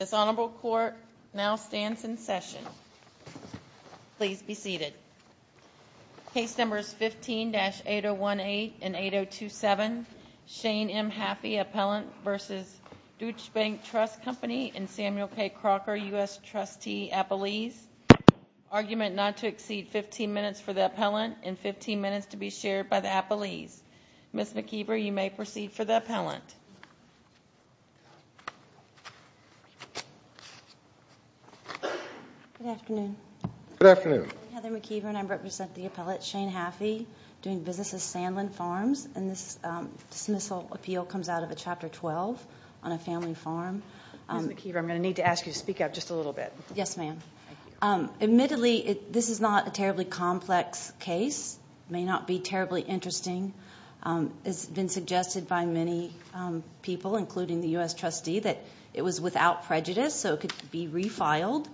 This honorable court now stands in session. Please be seated. Case numbers 15-8018 and 8027. Shane M. Haffey, Appellant v. Dutch Bank Trust Company and Samuel K. Crocker, U.S. Trustee, Appellees. Argument not to exceed 15 minutes for the appellant and 15 minutes to be shared by the appellees. Ms. McKeever, you may proceed for the appellant. Good afternoon. Good afternoon. I'm Heather McKeever and I represent the appellate Shane Haffey doing business at Sandland Farms and this dismissal appeal comes out of a Chapter 12 on a family farm. Ms. McKeever, I'm going to need to ask you to speak up just a little bit. Yes, ma'am. Admittedly, this is not a terribly complex case. It may not be terribly interesting. It's been suggested by many people, including the U.S. trustee, that it was without prejudice so it could be refiled.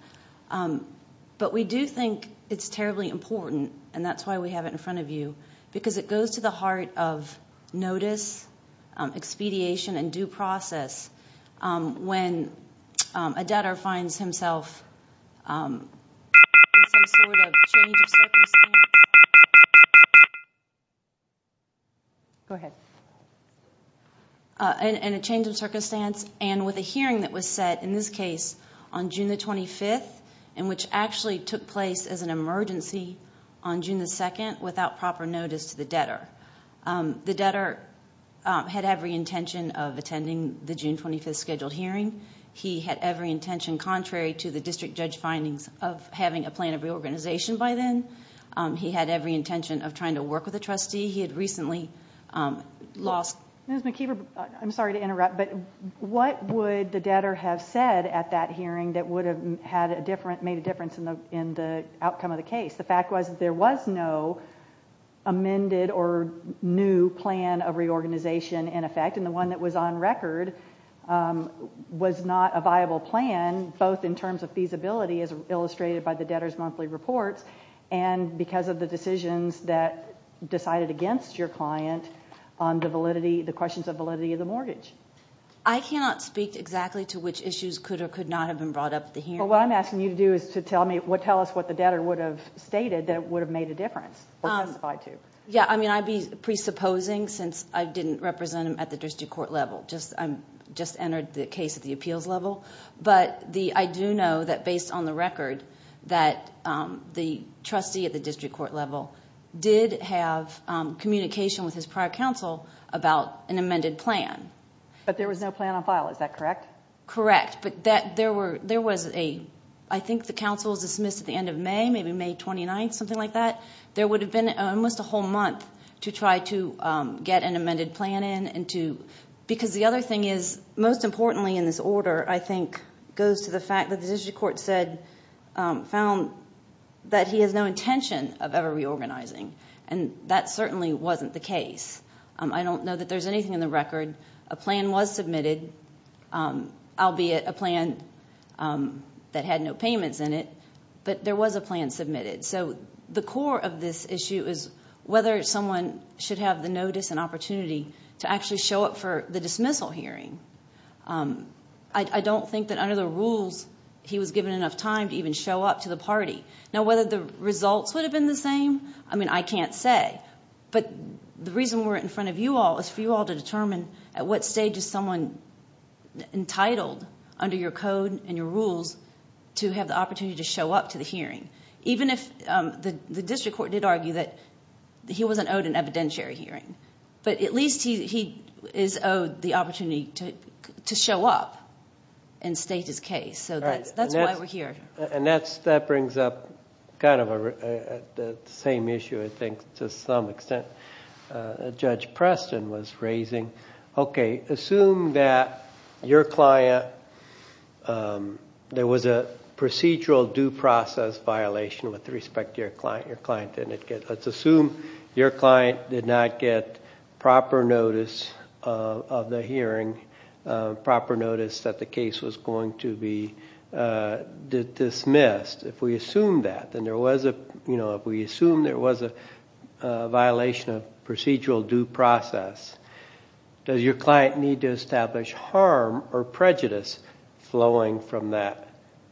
But we do think it's terribly important and that's why we have it in front of you because it goes to the heart of notice, expediation, and due process when a debtor finds himself in some sort of change of circumstance. Go ahead. In a change of circumstance and with a hearing that was set, in this case, on June the 25th and which actually took place as an emergency on June the 2nd without proper notice to the debtor. The debtor had every intention of attending the June 25th scheduled hearing. He had every intention, contrary to the district judge findings, of having a plan of reorganization by then. He had every intention of trying to work with the trustee. He had recently lost... Ms. McKeever, I'm sorry to interrupt, but what would the debtor have said at that hearing that would have made a difference in the outcome of the case? The fact was that there was no amended or new plan of reorganization in effect and the one that was on record was not a viable plan, both in terms of feasibility as illustrated by the debtor's monthly reports and because of the decisions that decided against your client on the validity, the questions of validity of the mortgage. I cannot speak exactly to which issues could or could not have been brought up at the hearing. What I'm asking you to do is to tell me, tell us what the debtor would have stated that would have made a difference or testified to. Yeah, I mean, I'd be presupposing since I didn't represent him at the district court level. I just entered the case at the appeals level, but I do know that based on the record that the trustee at the district court level did have communication with his prior counsel about an amended plan. But there was no plan on file, is that correct? Correct, but there was a... I think the counsel was dismissed at the end of May, maybe May 29th, something like that. There would have been almost a whole month to try to get an amended plan in and to... Because the other thing is, most importantly in this order, I think, goes to the fact that the district court said, found that he has no intention of ever reorganizing, and that certainly wasn't the case. I don't know that there's anything in the record. A plan was submitted, albeit a plan that had no payments in it, but there was a plan submitted. So the core of this issue is whether someone should have the notice and opportunity to actually show up for the dismissal hearing. I don't think that under the rules he was given enough time to even show up to the party. Now, whether the results would have been the same, I mean, I can't say. But the reason we're in front of you all is for you all to determine at what stage is someone entitled under your code and your rules to have the opportunity to show up to the hearing, even if the district court did argue that he wasn't owed an opportunity. But at least he is owed the opportunity to show up and state his case. So that's why we're here. And that brings up kind of the same issue, I think, to some extent, Judge Preston was raising. Okay, assume that your client... There was a procedural due process violation with respect to your client. Let's assume your client did not get proper notice of the hearing, proper notice that the case was going to be dismissed. If we assume that, then there was a, you know, if we assume there was a violation of procedural due process, does your client need to establish harm or prejudice flowing from that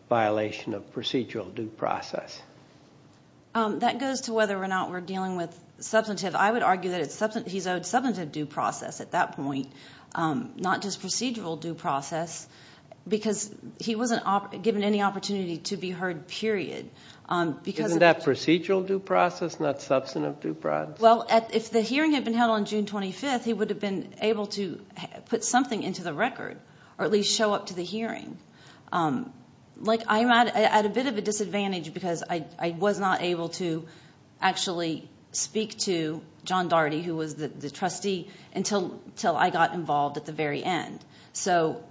violation of procedural due process? That goes to whether or not we're dealing with substantive. I would argue that he's owed substantive due process at that point, not just procedural due process, because he wasn't given any opportunity to be heard, period. Isn't that procedural due process, not substantive due process? Well, if the hearing had been held on June 25th, he would have been able to put something into the record, or at least show up to the hearing. Like, I'm at a bit of a disadvantage because I was not able to actually speak to John Daugherty, who was the trustee, until I got involved at the very end. So,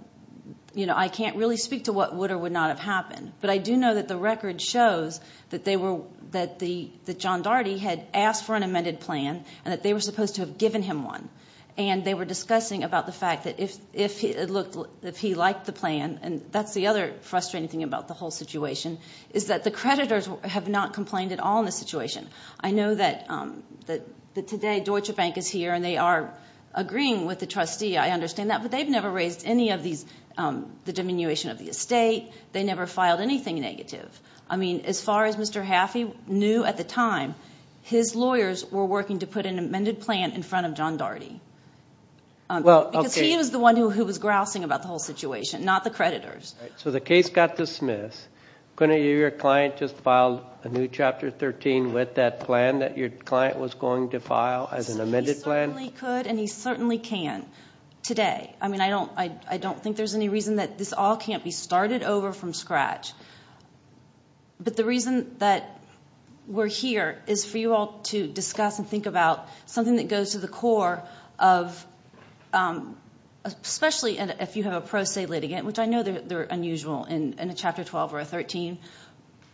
you know, I can't really speak to what would or would not have happened, but I do know that the record shows that they were... that John Daugherty had asked for an amended plan, and that they were supposed to have given him one, and they were discussing about the fact that if he looked... if he liked the plan, and that's the other frustrating thing about the whole situation, is that the creditors have not complained at all in this situation. I know that today Deutsche Bank is here, and they are agreeing with the trustee. I understand that, but they've never raised any of these... the diminution of the estate. They never filed anything negative. I mean, as far as Mr. Haffey knew at the time, his lawyers were working to put an amended plan in front of John Daugherty. Well, okay. Because he was the one who was grousing about the whole situation, not the creditors. So the case got dismissed. Couldn't you... your client just filed a new Chapter 13 with that plan that your client was going to file as an amended plan? He certainly could, and he certainly can today. I mean, I don't... I don't think there's any reason that this all can't be started over from scratch, but the reason that we're here is for you all to discuss and think about something that goes to the core of... especially if you have a pro se litigant, which I know they're unusual in a Chapter 12 or a 13.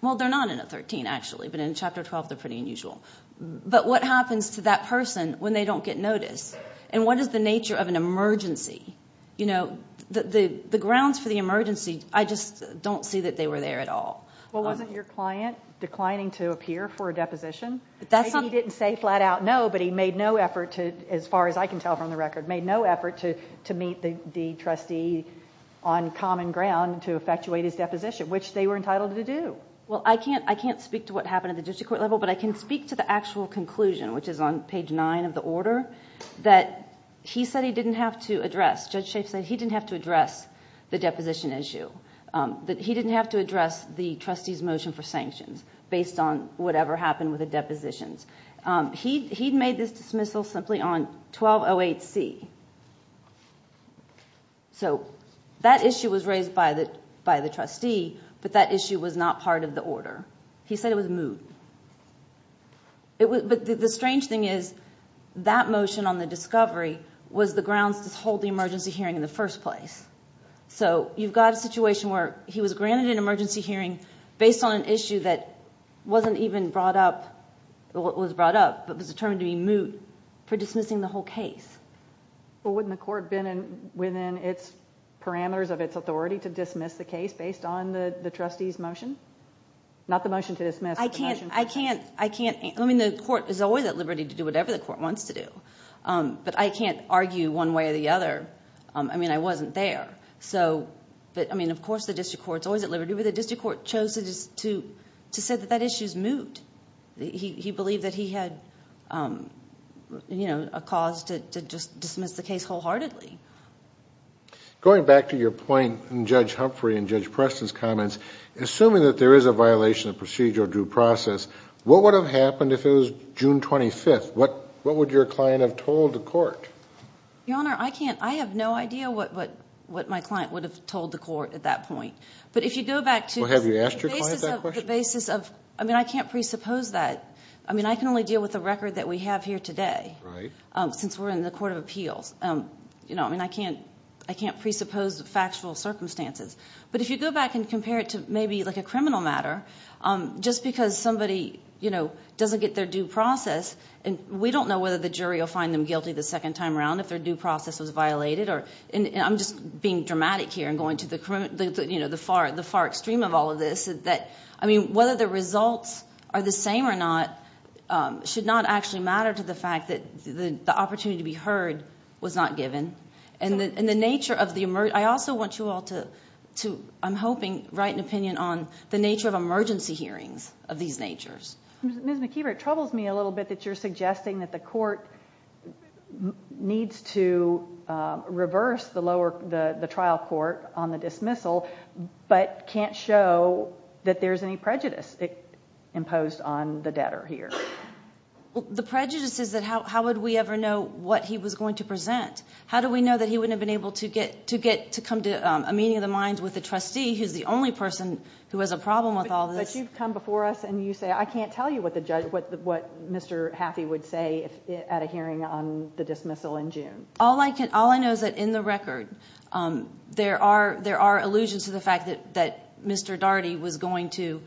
Well, they're not in a 13, actually, but in Chapter 12, they're pretty unusual. But what happens to that person when they don't get notice? And what is the nature of an emergency? You know, the grounds for the emergency, I just don't see that they were there at all. Well, wasn't your client declining to appear for a deposition? That's not... He didn't say flat-out no, but he made no effort to, as far as I can tell from the record, made no effort to meet the trustee on common ground to effectuate his deposition, which they were entitled to do. Well, I can't... I can't speak to what happened at the district court level, but I can speak to the actual conclusion, which is on page 9 of the order, that he said he didn't have to address... Judge Schaaf said he didn't have to address the deposition issue, that he didn't have to address the trustee's motion for sanctions based on whatever happened with the depositions. He'd made this dismissal simply on 1208C. So that issue was raised by the trustee, but that issue was not part of the order. He said it was moot. But the strange thing is, that motion on the discovery was the grounds to hold the emergency hearing in the first place. So you've got a situation where he was granted an emergency hearing based on an issue that wasn't even brought up... was brought up, but was determined to be moot for dismissing the whole case. Well, wouldn't the court have been within its parameters of its authority to dismiss the case based on the trustee's motion? Not the motion to dismiss, but the motion to dismiss. I can't... I mean, the court is always at liberty to do whatever the court wants to do, but I can't argue one way or the other. I mean, I wasn't there, so... But, I mean, of course the district court's always at liberty, but the district court chose to say that that issue's moot. He believed that he had, you know, a cause to just dismiss the case wholeheartedly. Going back to your point in Judge Humphrey and Judge Preston's comments, assuming that there is a violation of procedure or due process, what would have happened if it was June 25th? What would your client have told the court? Your Honor, I can't... I have no idea what my client would have told the court at that point, but if you go back to... Well, have you asked your client that question? The basis of... I mean, I can't presuppose that. I mean, I can only deal with the record that we have here today since we're in the Court of Appeals. You know, I mean, I can't... I can't presuppose the factual circumstances, but if you go back and compare it to maybe, like, a criminal matter, just because somebody, you know, doesn't get their due process, and we don't know whether the jury will find them guilty the second time around if their due process was dramatic here, and going to the, you know, the far, the far extreme of all of this, that, I mean, whether the results are the same or not should not actually matter to the fact that the opportunity to be heard was not given, and the nature of the... I also want you all to, I'm hoping, write an opinion on the nature of emergency hearings of these natures. Ms. McKeever, it troubles me a little bit that you're suggesting that the court needs to reverse the lower, the trial court on the dismissal, but can't show that there's any prejudice imposed on the debtor here. The prejudice is that how would we ever know what he was going to present? How do we know that he wouldn't have been able to get, to get to come to a meeting of the minds with the trustee, who's the only person who has a problem with all this? But you've come before us, and you say, I can't tell you what the judge, what Mr. Haffey would say at a hearing on the dismissal in there are, there are allusions to the fact that, that Mr. Daugherty was going to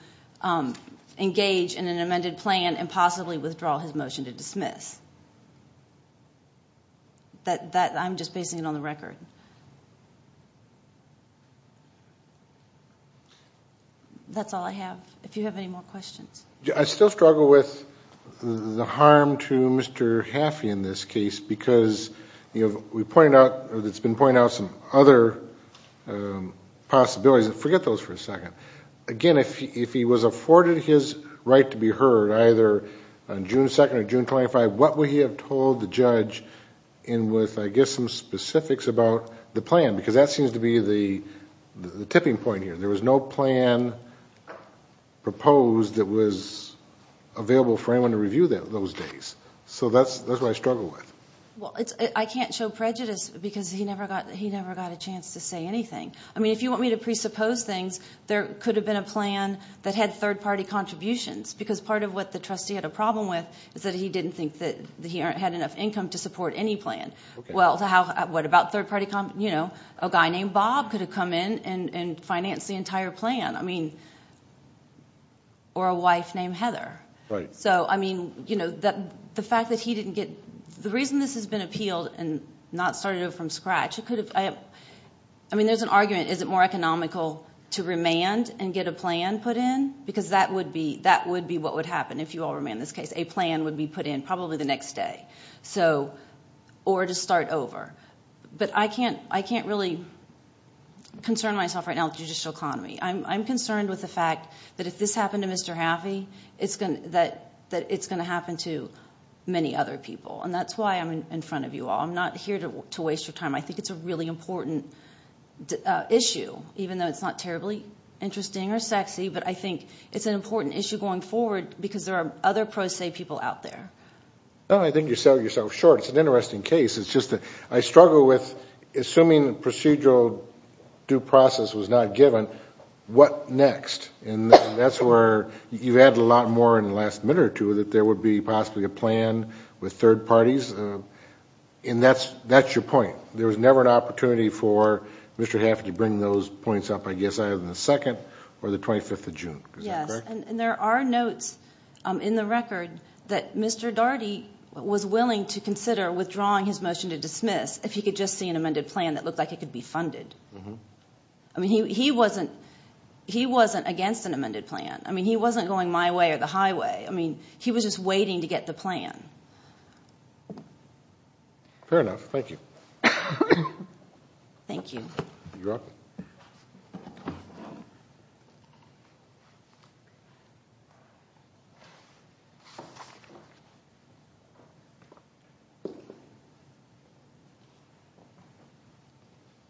engage in an amended plan and possibly withdraw his motion to dismiss. That, that, I'm just basing it on the record. That's all I have. If you have any more questions. I still struggle with the harm to Mr. Haffey in this case, because we pointed out, it's been pointed out some other possibilities, forget those for a second. Again, if he was afforded his right to be heard, either on June 2nd or June 25th, what would he have told the judge in with, I guess, some specifics about the plan? Because that seems to be the tipping point here. There was no plan proposed that was available for anyone to review that those days. So that's, that's what I struggle with. Well, it's, I can't show prejudice, because he never got, he never got a chance to say anything. I mean, if you want me to presuppose things, there could have been a plan that had third-party contributions, because part of what the trustee had a problem with is that he didn't think that he had enough income to support any plan. Well, how, what about third-party, you know, a guy named Bob could have come in and, and financed the entire plan. I mean, or a wife named Heather. Right. So, I mean, you know, that, the fact that he didn't get, the reason this has been appealed and not started from scratch, it could have, I mean, there's an argument, is it more economical to remand and get a plan put in? Because that would be, that would be what would happen if you all remanded this case. A plan would be put in, probably the next day. So, or to start over. But I can't, I can't really concern myself right now with the judicial economy. I'm concerned with the fact that if this is going to happen to many other people. And that's why I'm in front of you all. I'm not here to waste your time. I think it's a really important issue, even though it's not terribly interesting or sexy. But I think it's an important issue going forward, because there are other pro se people out there. Well, I think you're selling yourself short. It's an interesting case. It's just that I struggle with, assuming the procedural due process was not given, what next? And that's where you've added a lot more in the last minute or two, that there would be possibly a plan with third parties. And that's, that's your point. There was never an opportunity for Mr. Hafford to bring those points up, I guess, either the 2nd or the 25th of June. Yes, and there are notes in the record that Mr. Daugherty was willing to consider withdrawing his motion to dismiss if he could just see an amended plan that looked like it could be funded. I mean, he wasn't, he wasn't against an amended plan. I mean, he wasn't going my way or the highway. I mean, he was just waiting to get the plan. Fair enough. Thank you. Thank you.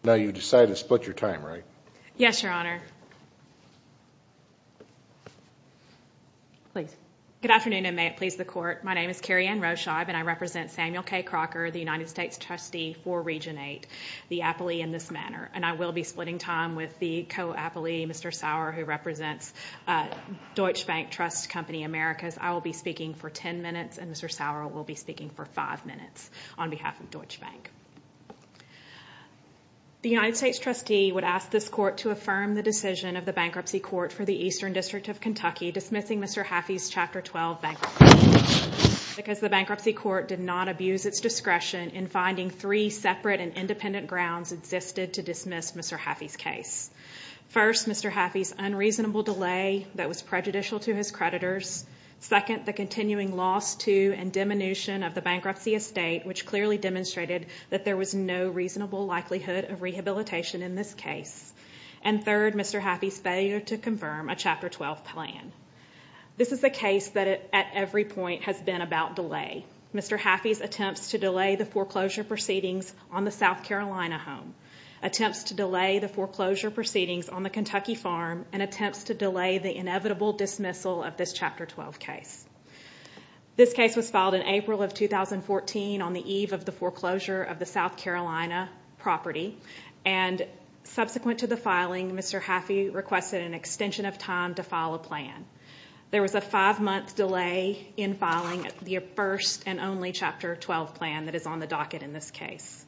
Now you've decided to split your time, right? Yes, Your Honor. Please. Good afternoon, and may it please the Court. My name is Kerri-Ann Roshib, and I represent Samuel K. Crocker, the United States trustee for Region 8, the appellee in this manner. And I will be splitting time with the co-appellee, Mr. Sauer, who represents Deutsche Bank Trust Company Americas. I will be speaking for 10 minutes, and Mr. Sauer will be speaking for 5 minutes on behalf of Deutsche Bank. The United States trustee would ask this court to affirm the decision of the Bankruptcy Court for the Eastern District of Kentucky dismissing Mr. Haffey's Chapter 12 bankruptcy, because the Bankruptcy Court did not abuse its discretion in finding three separate and independent grounds existed to dismiss Mr. Haffey's case. First, Mr. Haffey's unreasonable delay that was prejudicial to his creditors. Second, the continuing loss to and diminution of the bankruptcy estate, which clearly demonstrated that there was no reasonable likelihood of rehabilitation in this case. And third, Mr. Haffey's failure to confirm a Chapter 12 plan. This is a case that at every point has been about delay. Mr. Haffey's attempts to delay the foreclosure proceedings on the South Carolina home, attempts to delay the foreclosure proceedings on the Kentucky farm, and attempts to delay the inevitable dismissal of this Chapter 12 case. This case was filed in April of 2014 on the eve of the foreclosure of the South Carolina property, and Mr. Haffey requested an extension of time to file a plan. There was a five-month delay in filing the first and only Chapter 12 plan that is on the docket in this case.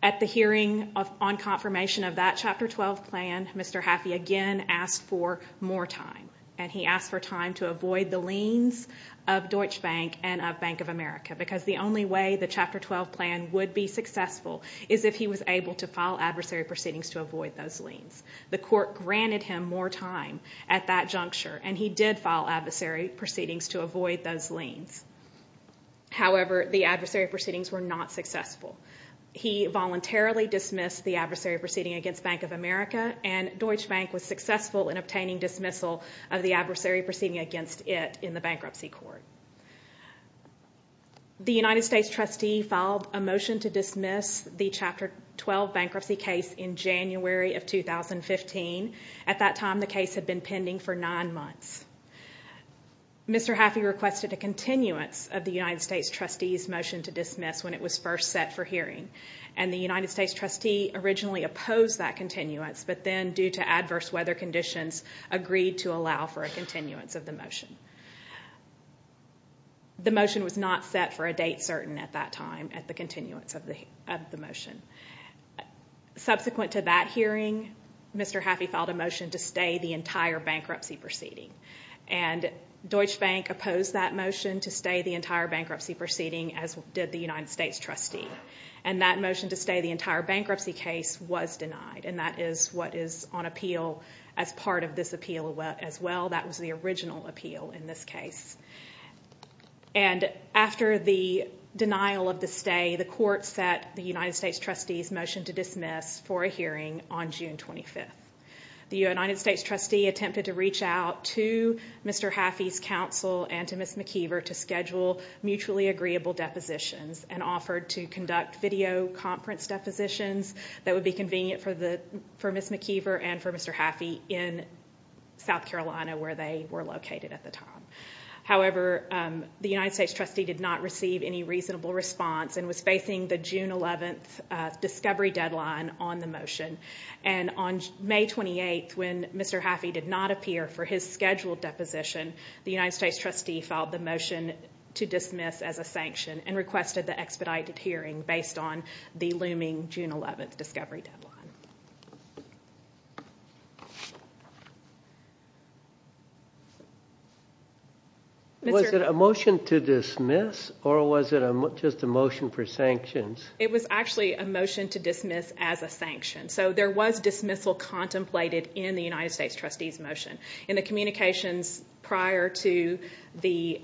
At the hearing on confirmation of that Chapter 12 plan, Mr. Haffey again asked for more time, and he asked for time to avoid the liens of Deutsche Bank and of Bank of America, because the only way the Chapter 12 plan would be successful is if he was able to file adversary proceedings to avoid those liens. The court granted him more time at that juncture, and he did file adversary proceedings to avoid those liens. However, the adversary proceedings were not successful. He voluntarily dismissed the adversary proceeding against Bank of America, and Deutsche Bank was successful in obtaining dismissal of the adversary proceeding against it in the bankruptcy court. The United States trustee filed a motion to dismiss the Chapter 12 bankruptcy case in January of 2015. At that time, the case had been pending for nine months. Mr. Haffey requested a continuance of the United States trustee's motion to dismiss when it was first set for hearing, and the United States trustee originally opposed that continuance, but then due to adverse weather conditions, agreed to allow for a date certain at that time at the continuance of the motion. Subsequent to that hearing, Mr. Haffey filed a motion to stay the entire bankruptcy proceeding, and Deutsche Bank opposed that motion to stay the entire bankruptcy proceeding, as did the United States trustee, and that motion to stay the entire bankruptcy case was denied, and that is what is on appeal as part of this appeal as well. That was the original appeal in this case. And after the denial of the stay, the court set the United States trustee's motion to dismiss for a hearing on June 25th. The United States trustee attempted to reach out to Mr. Haffey's counsel and to Ms. McKeever to schedule mutually agreeable depositions and offered to conduct video conference depositions that would be convenient for Ms. McKeever where they were located at the time. However, the United States trustee did not receive any reasonable response and was facing the June 11th discovery deadline on the motion, and on May 28th, when Mr. Haffey did not appear for his scheduled deposition, the United States trustee filed the motion to dismiss as a sanction and requested the expedited hearing based on the looming June 11th discovery deadline. Was it a motion to dismiss or was it just a motion for sanctions? It was actually a motion to dismiss as a sanction. So there was dismissal contemplated in the United States trustee's motion. In the communications prior to the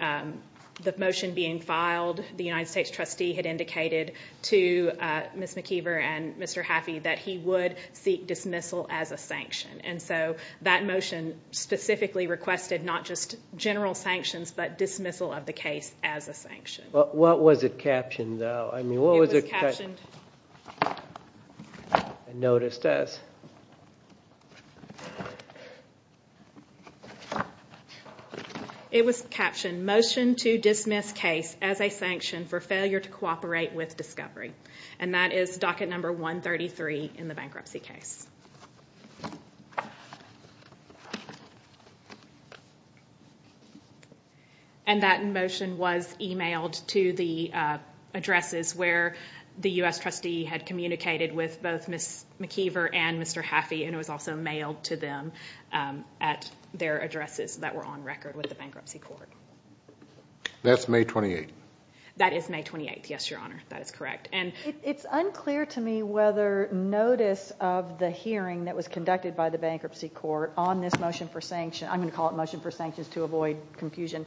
motion being filed, the United States trustee had indicated to Ms. McKeever and Mr. Haffey that he would seek dismissal as a sanction. And so that motion specifically requested not just general sanctions but dismissal of the case as a sanction. What was it captioned, though? It was captioned Motion to Dismiss Case as a Sanction for Failure to Cooperate with Discovery. And that is docket number 133 in the bankruptcy case. And that motion was emailed to the addresses where the U.S. trustee had communicated with both Ms. McKeever and Mr. Haffey, and it was also mailed to them at their addresses that were on record with the bankruptcy court. That's May 28th? That is May 28th, yes, Your Honor. That is correct. It's unclear to me whether notice of the hearing that was conducted by the bankruptcy court on this motion for sanction, I'm going to call it Motion for Sanctions to Avoid Confusion,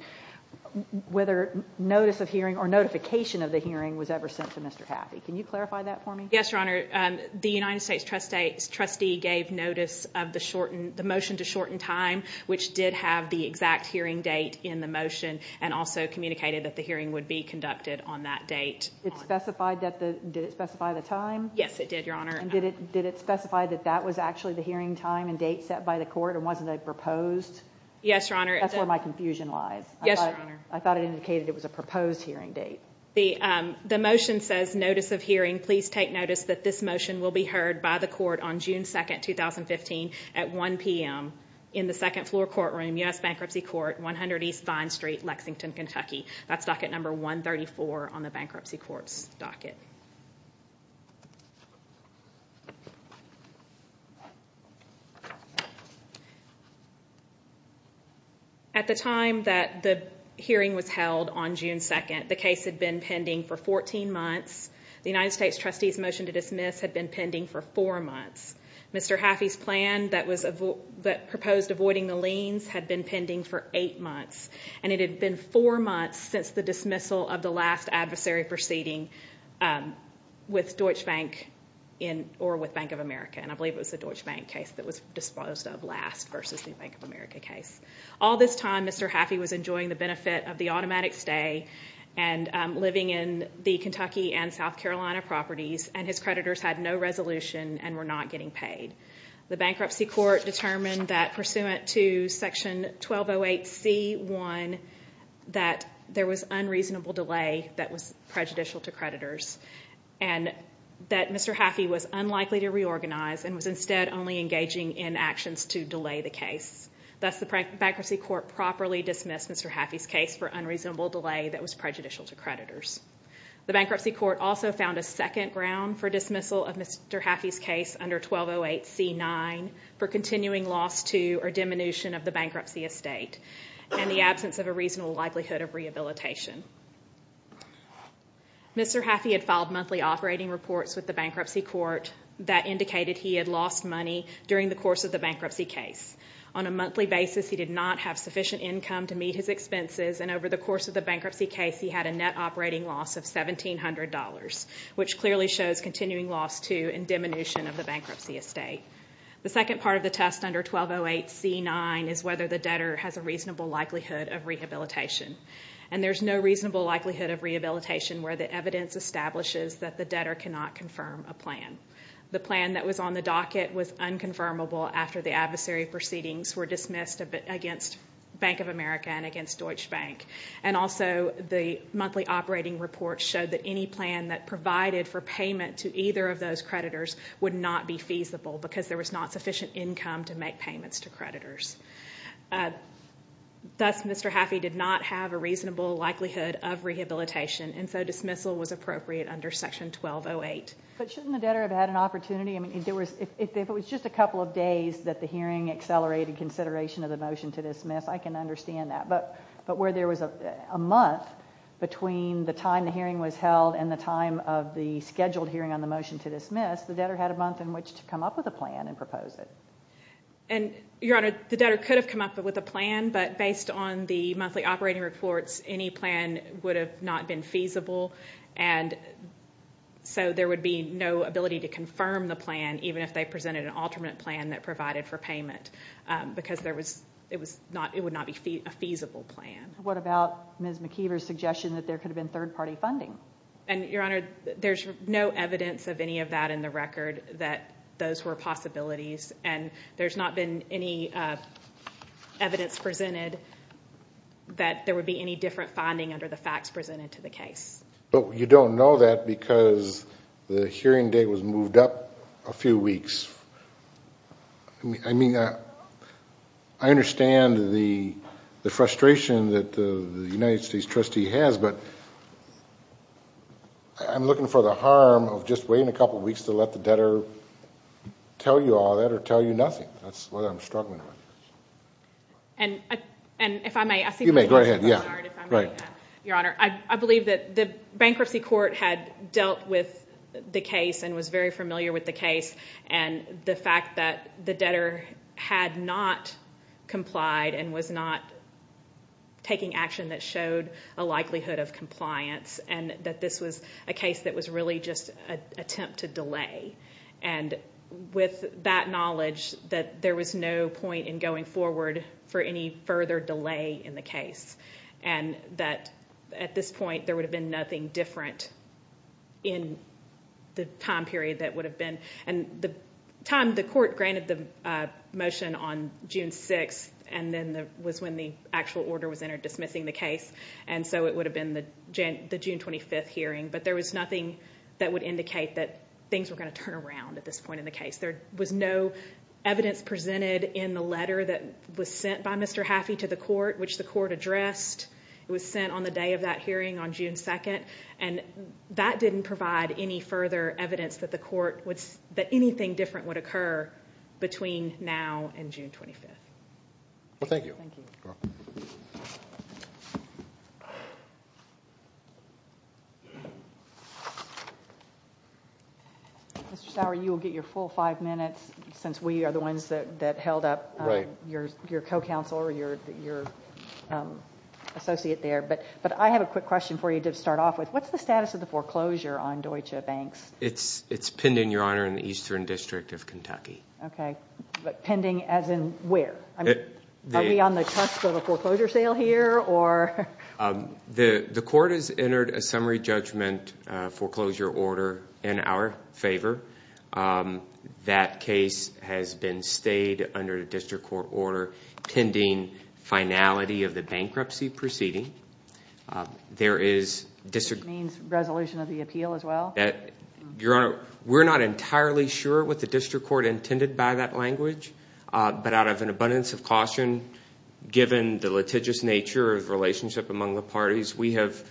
whether notice of hearing or notification of the hearing was ever sent to Mr. Haffey. Can you clarify that for me? Yes, Your Honor. The United States trustee gave notice of the motion to shorten time, which did have the exact hearing date in the motion, and also communicated that the hearing would be conducted on that date. It specified that the, did it specify the time? Yes, it did, Your Honor. And did it specify that that was actually the hearing time and date set by the court, and wasn't a proposed? Yes, Your Honor. That's where my confusion lies. Yes, Your Honor. I thought it indicated it was a proposed hearing date. The motion says notice of hearing, please take notice that this motion will be heard by the court on June 2nd, 2015 at 1 p.m. in the second floor courtroom, U.S. Bankruptcy Court, 100 East Vine Street, Lexington, Kentucky. That's docket number 134 on the bankruptcy court's docket. At the time that the hearing was held on June 2nd, the case had been pending for 14 months. The United States trustee's motion to dismiss had been pending for four months. Mr. Haffey's plan that was, that proposed avoiding the liens had been pending for eight months, and it had been four months since the dismissal of the last adversary proceeding with Deutsche Bank in, or with Bank of America, and I believe it was the Deutsche Bank case that was disposed of last versus the Bank of America case. All this time, Mr. Haffey was enjoying the benefit of the automatic stay and living in the Kentucky and South Carolina properties, and his creditors had no resolution and were not getting paid. The bankruptcy court determined that pursuant to section 1208C1, that there was unreasonable delay that was prejudicial to creditors, and that Mr. Haffey was unlikely to reorganize and was instead only engaging in actions to delay the case. Thus, the bankruptcy court properly dismissed Mr. Haffey's case for unreasonable delay that was prejudicial to creditors. The bankruptcy court also found a second ground for dismissal of Mr. Haffey's case, section 1208C9, for continuing loss to or diminution of the bankruptcy estate, and the absence of a reasonable likelihood of rehabilitation. Mr. Haffey had filed monthly operating reports with the bankruptcy court that indicated he had lost money during the course of the bankruptcy case. On a monthly basis, he did not have sufficient income to meet his expenses, and over the course of the bankruptcy case, he had a net operating loss of $1,700, which clearly shows continuing loss to and diminution of the bankruptcy estate. The second part of the test under 1208C9 is whether the debtor has a reasonable likelihood of rehabilitation, and there's no reasonable likelihood of rehabilitation where the evidence establishes that the debtor cannot confirm a plan. The plan that was on the docket was unconfirmable after the adversary proceedings were dismissed against Bank of America and against Deutsche Bank, and also the monthly operating report showed that any plan that provided for payment to either of those creditors would not be feasible because there was not sufficient income to make payments to creditors. Thus, Mr. Haffey did not have a reasonable likelihood of rehabilitation, and so dismissal was appropriate under section 1208. But shouldn't the debtor have had an opportunity? I mean, if it was just a couple of days that the hearing accelerated consideration of the motion to dismiss, I can understand that. But where there was a month between the time the hearing was held and the time of the scheduled hearing on the motion to dismiss, the debtor had a month in which to come up with a plan and propose it. And, Your Honor, the debtor could have come up with a plan, but based on the monthly operating reports, any plan would have not been feasible, and so there would be no ability to confirm the plan even if they presented an alternate plan that provided for payment, because it would not be a feasible plan. What about Ms. McKeever's suggestion that there could have been third-party funding? And, Your Honor, there's no evidence of any of that in the record that those were possibilities, and there's not been any evidence presented that there would be any different finding under the facts presented to the case. But you don't know that because the hearing date was moved up a few weeks. I mean, I understand the frustration that the United States trustee has, but I'm looking for the harm of just waiting a couple weeks to let the debtor tell you all that or tell you nothing. That's what I'm struggling with. And, if I may, I believe that the bankruptcy court had dealt with the case and was very familiar with the case, and the fact that the debtor had not complied and was not taking action that showed a likelihood of compliance, and that this was a case that was really just an attempt to delay. And, with that knowledge, that there was no point in going forward for any further delay in the case, and that at this point there would have been nothing different in the time period that would have been. And the time the court granted the motion on June 6th, and then was when the actual order was entered dismissing the case, and so it would have been the June 25th hearing. But there was nothing that would indicate that things were going to turn around at this point in the case. There was no evidence presented in the letter that was sent by Mr. Haffey to the court, which the court addressed. It was sent on the day of that hearing on June 2nd. And that didn't provide any further evidence that anything different would occur between now and June 25th. Mr. Sauer, you will get your full five minutes, since we are the ones that held up your co-counsel or your associate there. But I have a quick question for you to start off with. What's the status of the foreclosure on Deutsche Banks? It's pending, Your Honor, in the Eastern District of Kentucky. Okay, but pending as in where? Are we on the cusp of a foreclosure sale here, or...? The court has entered a summary judgment foreclosure order in our favor. That case has been stayed under the district court order pending finality of the bankruptcy proceeding. Which means resolution of the appeal as well? Your Honor, we're not entirely sure what the district court intended by that language. But out of an abundance of caution, given the litigious nature of relationship among the parties, we have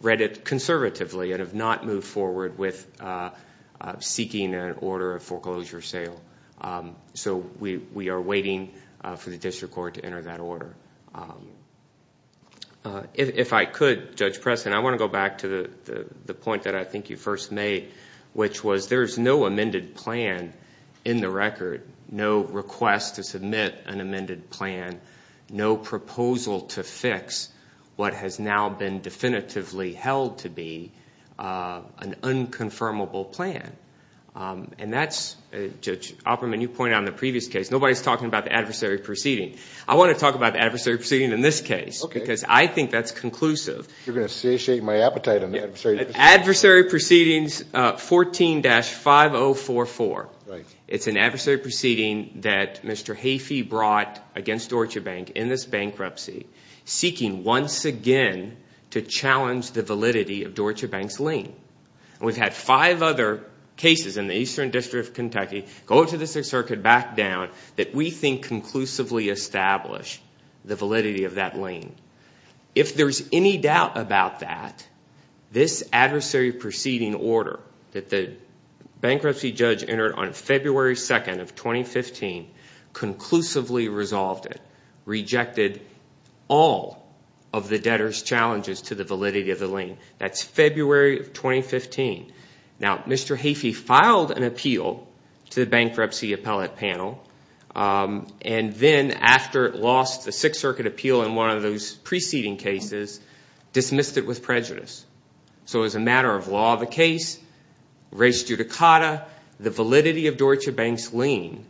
read it conservatively and have not moved forward with seeking an order of foreclosure sale. So we are waiting for the district court to enter that order. If I could, Judge Preston, I want to go back to the point that I think you first made, which was there's no amended plan in the record, no request to submit an amended plan, no proposal to fix what has now been definitively held to be an unconfirmable plan. And that's, Judge Opperman, you pointed out in the previous case, nobody's talking about the adversary proceeding. I want to talk about the adversary proceeding in this case. Okay. Because I think that's conclusive. You're going to satiate my appetite on the adversary proceeding. Adversary proceedings 14-5044. Right. It's an adversary proceeding that Mr. Heafey brought against Deutsche Bank in this bankruptcy, seeking once again to challenge the validity of Deutsche Bank's lien. And we've had five other cases in the Eastern District of Kentucky go to the Sixth Circuit, back down, that we think conclusively establish the validity of that lien. If there's any doubt about that, this adversary proceeding order that the bankruptcy judge entered on February 2nd of 2015 conclusively resolved it, rejected all of the debtors' challenges to the validity of the lien. That's February of 2015. Now, Mr. Heafey filed an appeal to the bankruptcy appellate panel, and then after it lost the Sixth Circuit appeal in one of those preceding cases, dismissed it with prejudice. So as a matter of law of the case, res judicata, the validity of Deutsche Bank's lien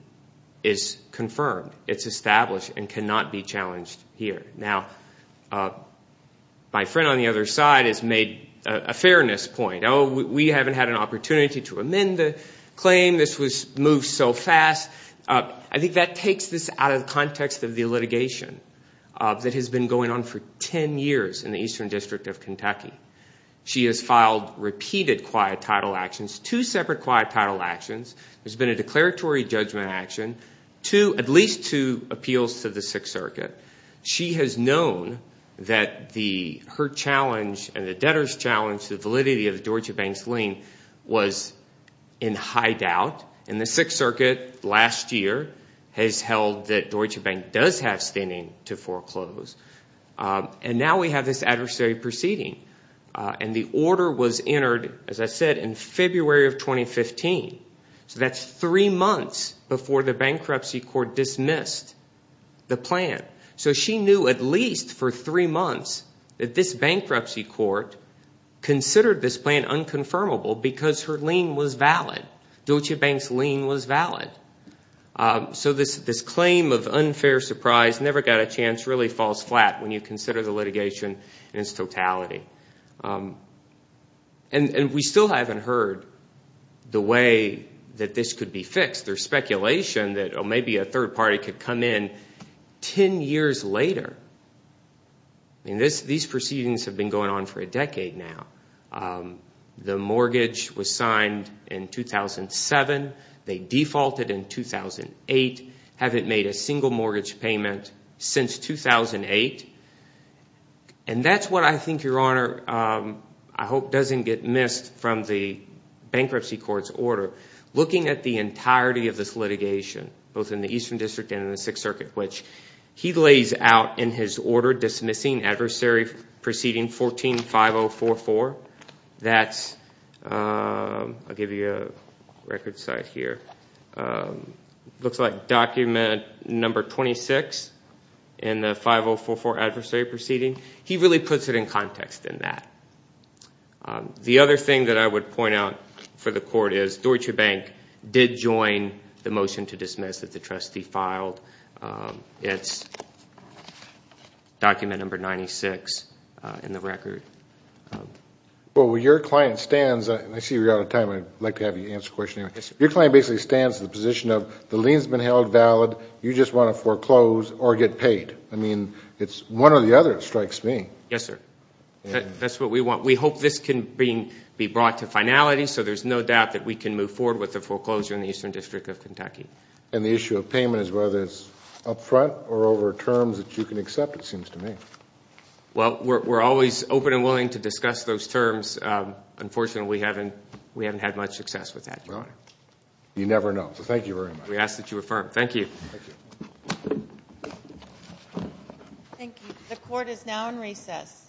is confirmed. It's established and cannot be challenged here. Now, my friend on the other side has made a fairness point. Oh, we haven't had an opportunity to amend the claim. This was moved so fast. I think that takes this out of the context of the litigation that has been going on for 10 years in the Eastern District of Kentucky. She has filed repeated quiet title actions, two separate quiet title actions. There's been a declaratory judgment action, at least two appeals to the Sixth Circuit. She has known that her challenge and the debtors' challenge to the validity of Deutsche Bank's lien was in high doubt, and the Sixth Circuit last year has held that Deutsche Bank does have standing to foreclose. And now we have this adversary proceeding, and the order was entered, as I said, in February of 2015. So that's three months before the bankruptcy court dismissed the plan. So she knew at least for three months that this bankruptcy court considered this plan unconfirmable because her lien was valid. Deutsche Bank's lien was valid. So this claim of unfair surprise never got a chance really falls flat when you consider the litigation in its totality. And we still haven't heard the way that this could be fixed. There's speculation that maybe a third party could come in 10 years later. These proceedings have been going on for a decade now. The mortgage was signed in 2007. They defaulted in 2008, haven't made a single mortgage payment since 2008. And that's what I think, Your Honor, I hope doesn't get missed from the bankruptcy court's order, looking at the entirety of this litigation, both in the Eastern District and in the Sixth Circuit, which he lays out in his order dismissing adversary proceeding 14-5044. That's, I'll give you a record site here, looks like document number 26 in the 5044 adversary proceeding. He really puts it in context in that. The other thing that I would point out for the court is Deutsche Bank did join the motion to dismiss that the trustee filed. It's document number 96 in the record. Well, where your client stands, I see you're out of time. I'd like to have you answer a question. Your client basically stands in the position of the lien's been held valid. You just want to foreclose or get paid. I mean, it's one or the other that strikes me. Yes, sir. That's what we want. We hope this can be brought to finality so there's no doubt that we can move forward with the foreclosure in the Eastern District of Kentucky. And the issue of payment is whether it's up front or over terms that you can accept, it seems to me. Well, we're always open and willing to discuss those terms. Unfortunately, we haven't had much success with that, Your Honor. You never know. So thank you very much. We ask that you affirm. Thank you. Thank you. The court is now in recess.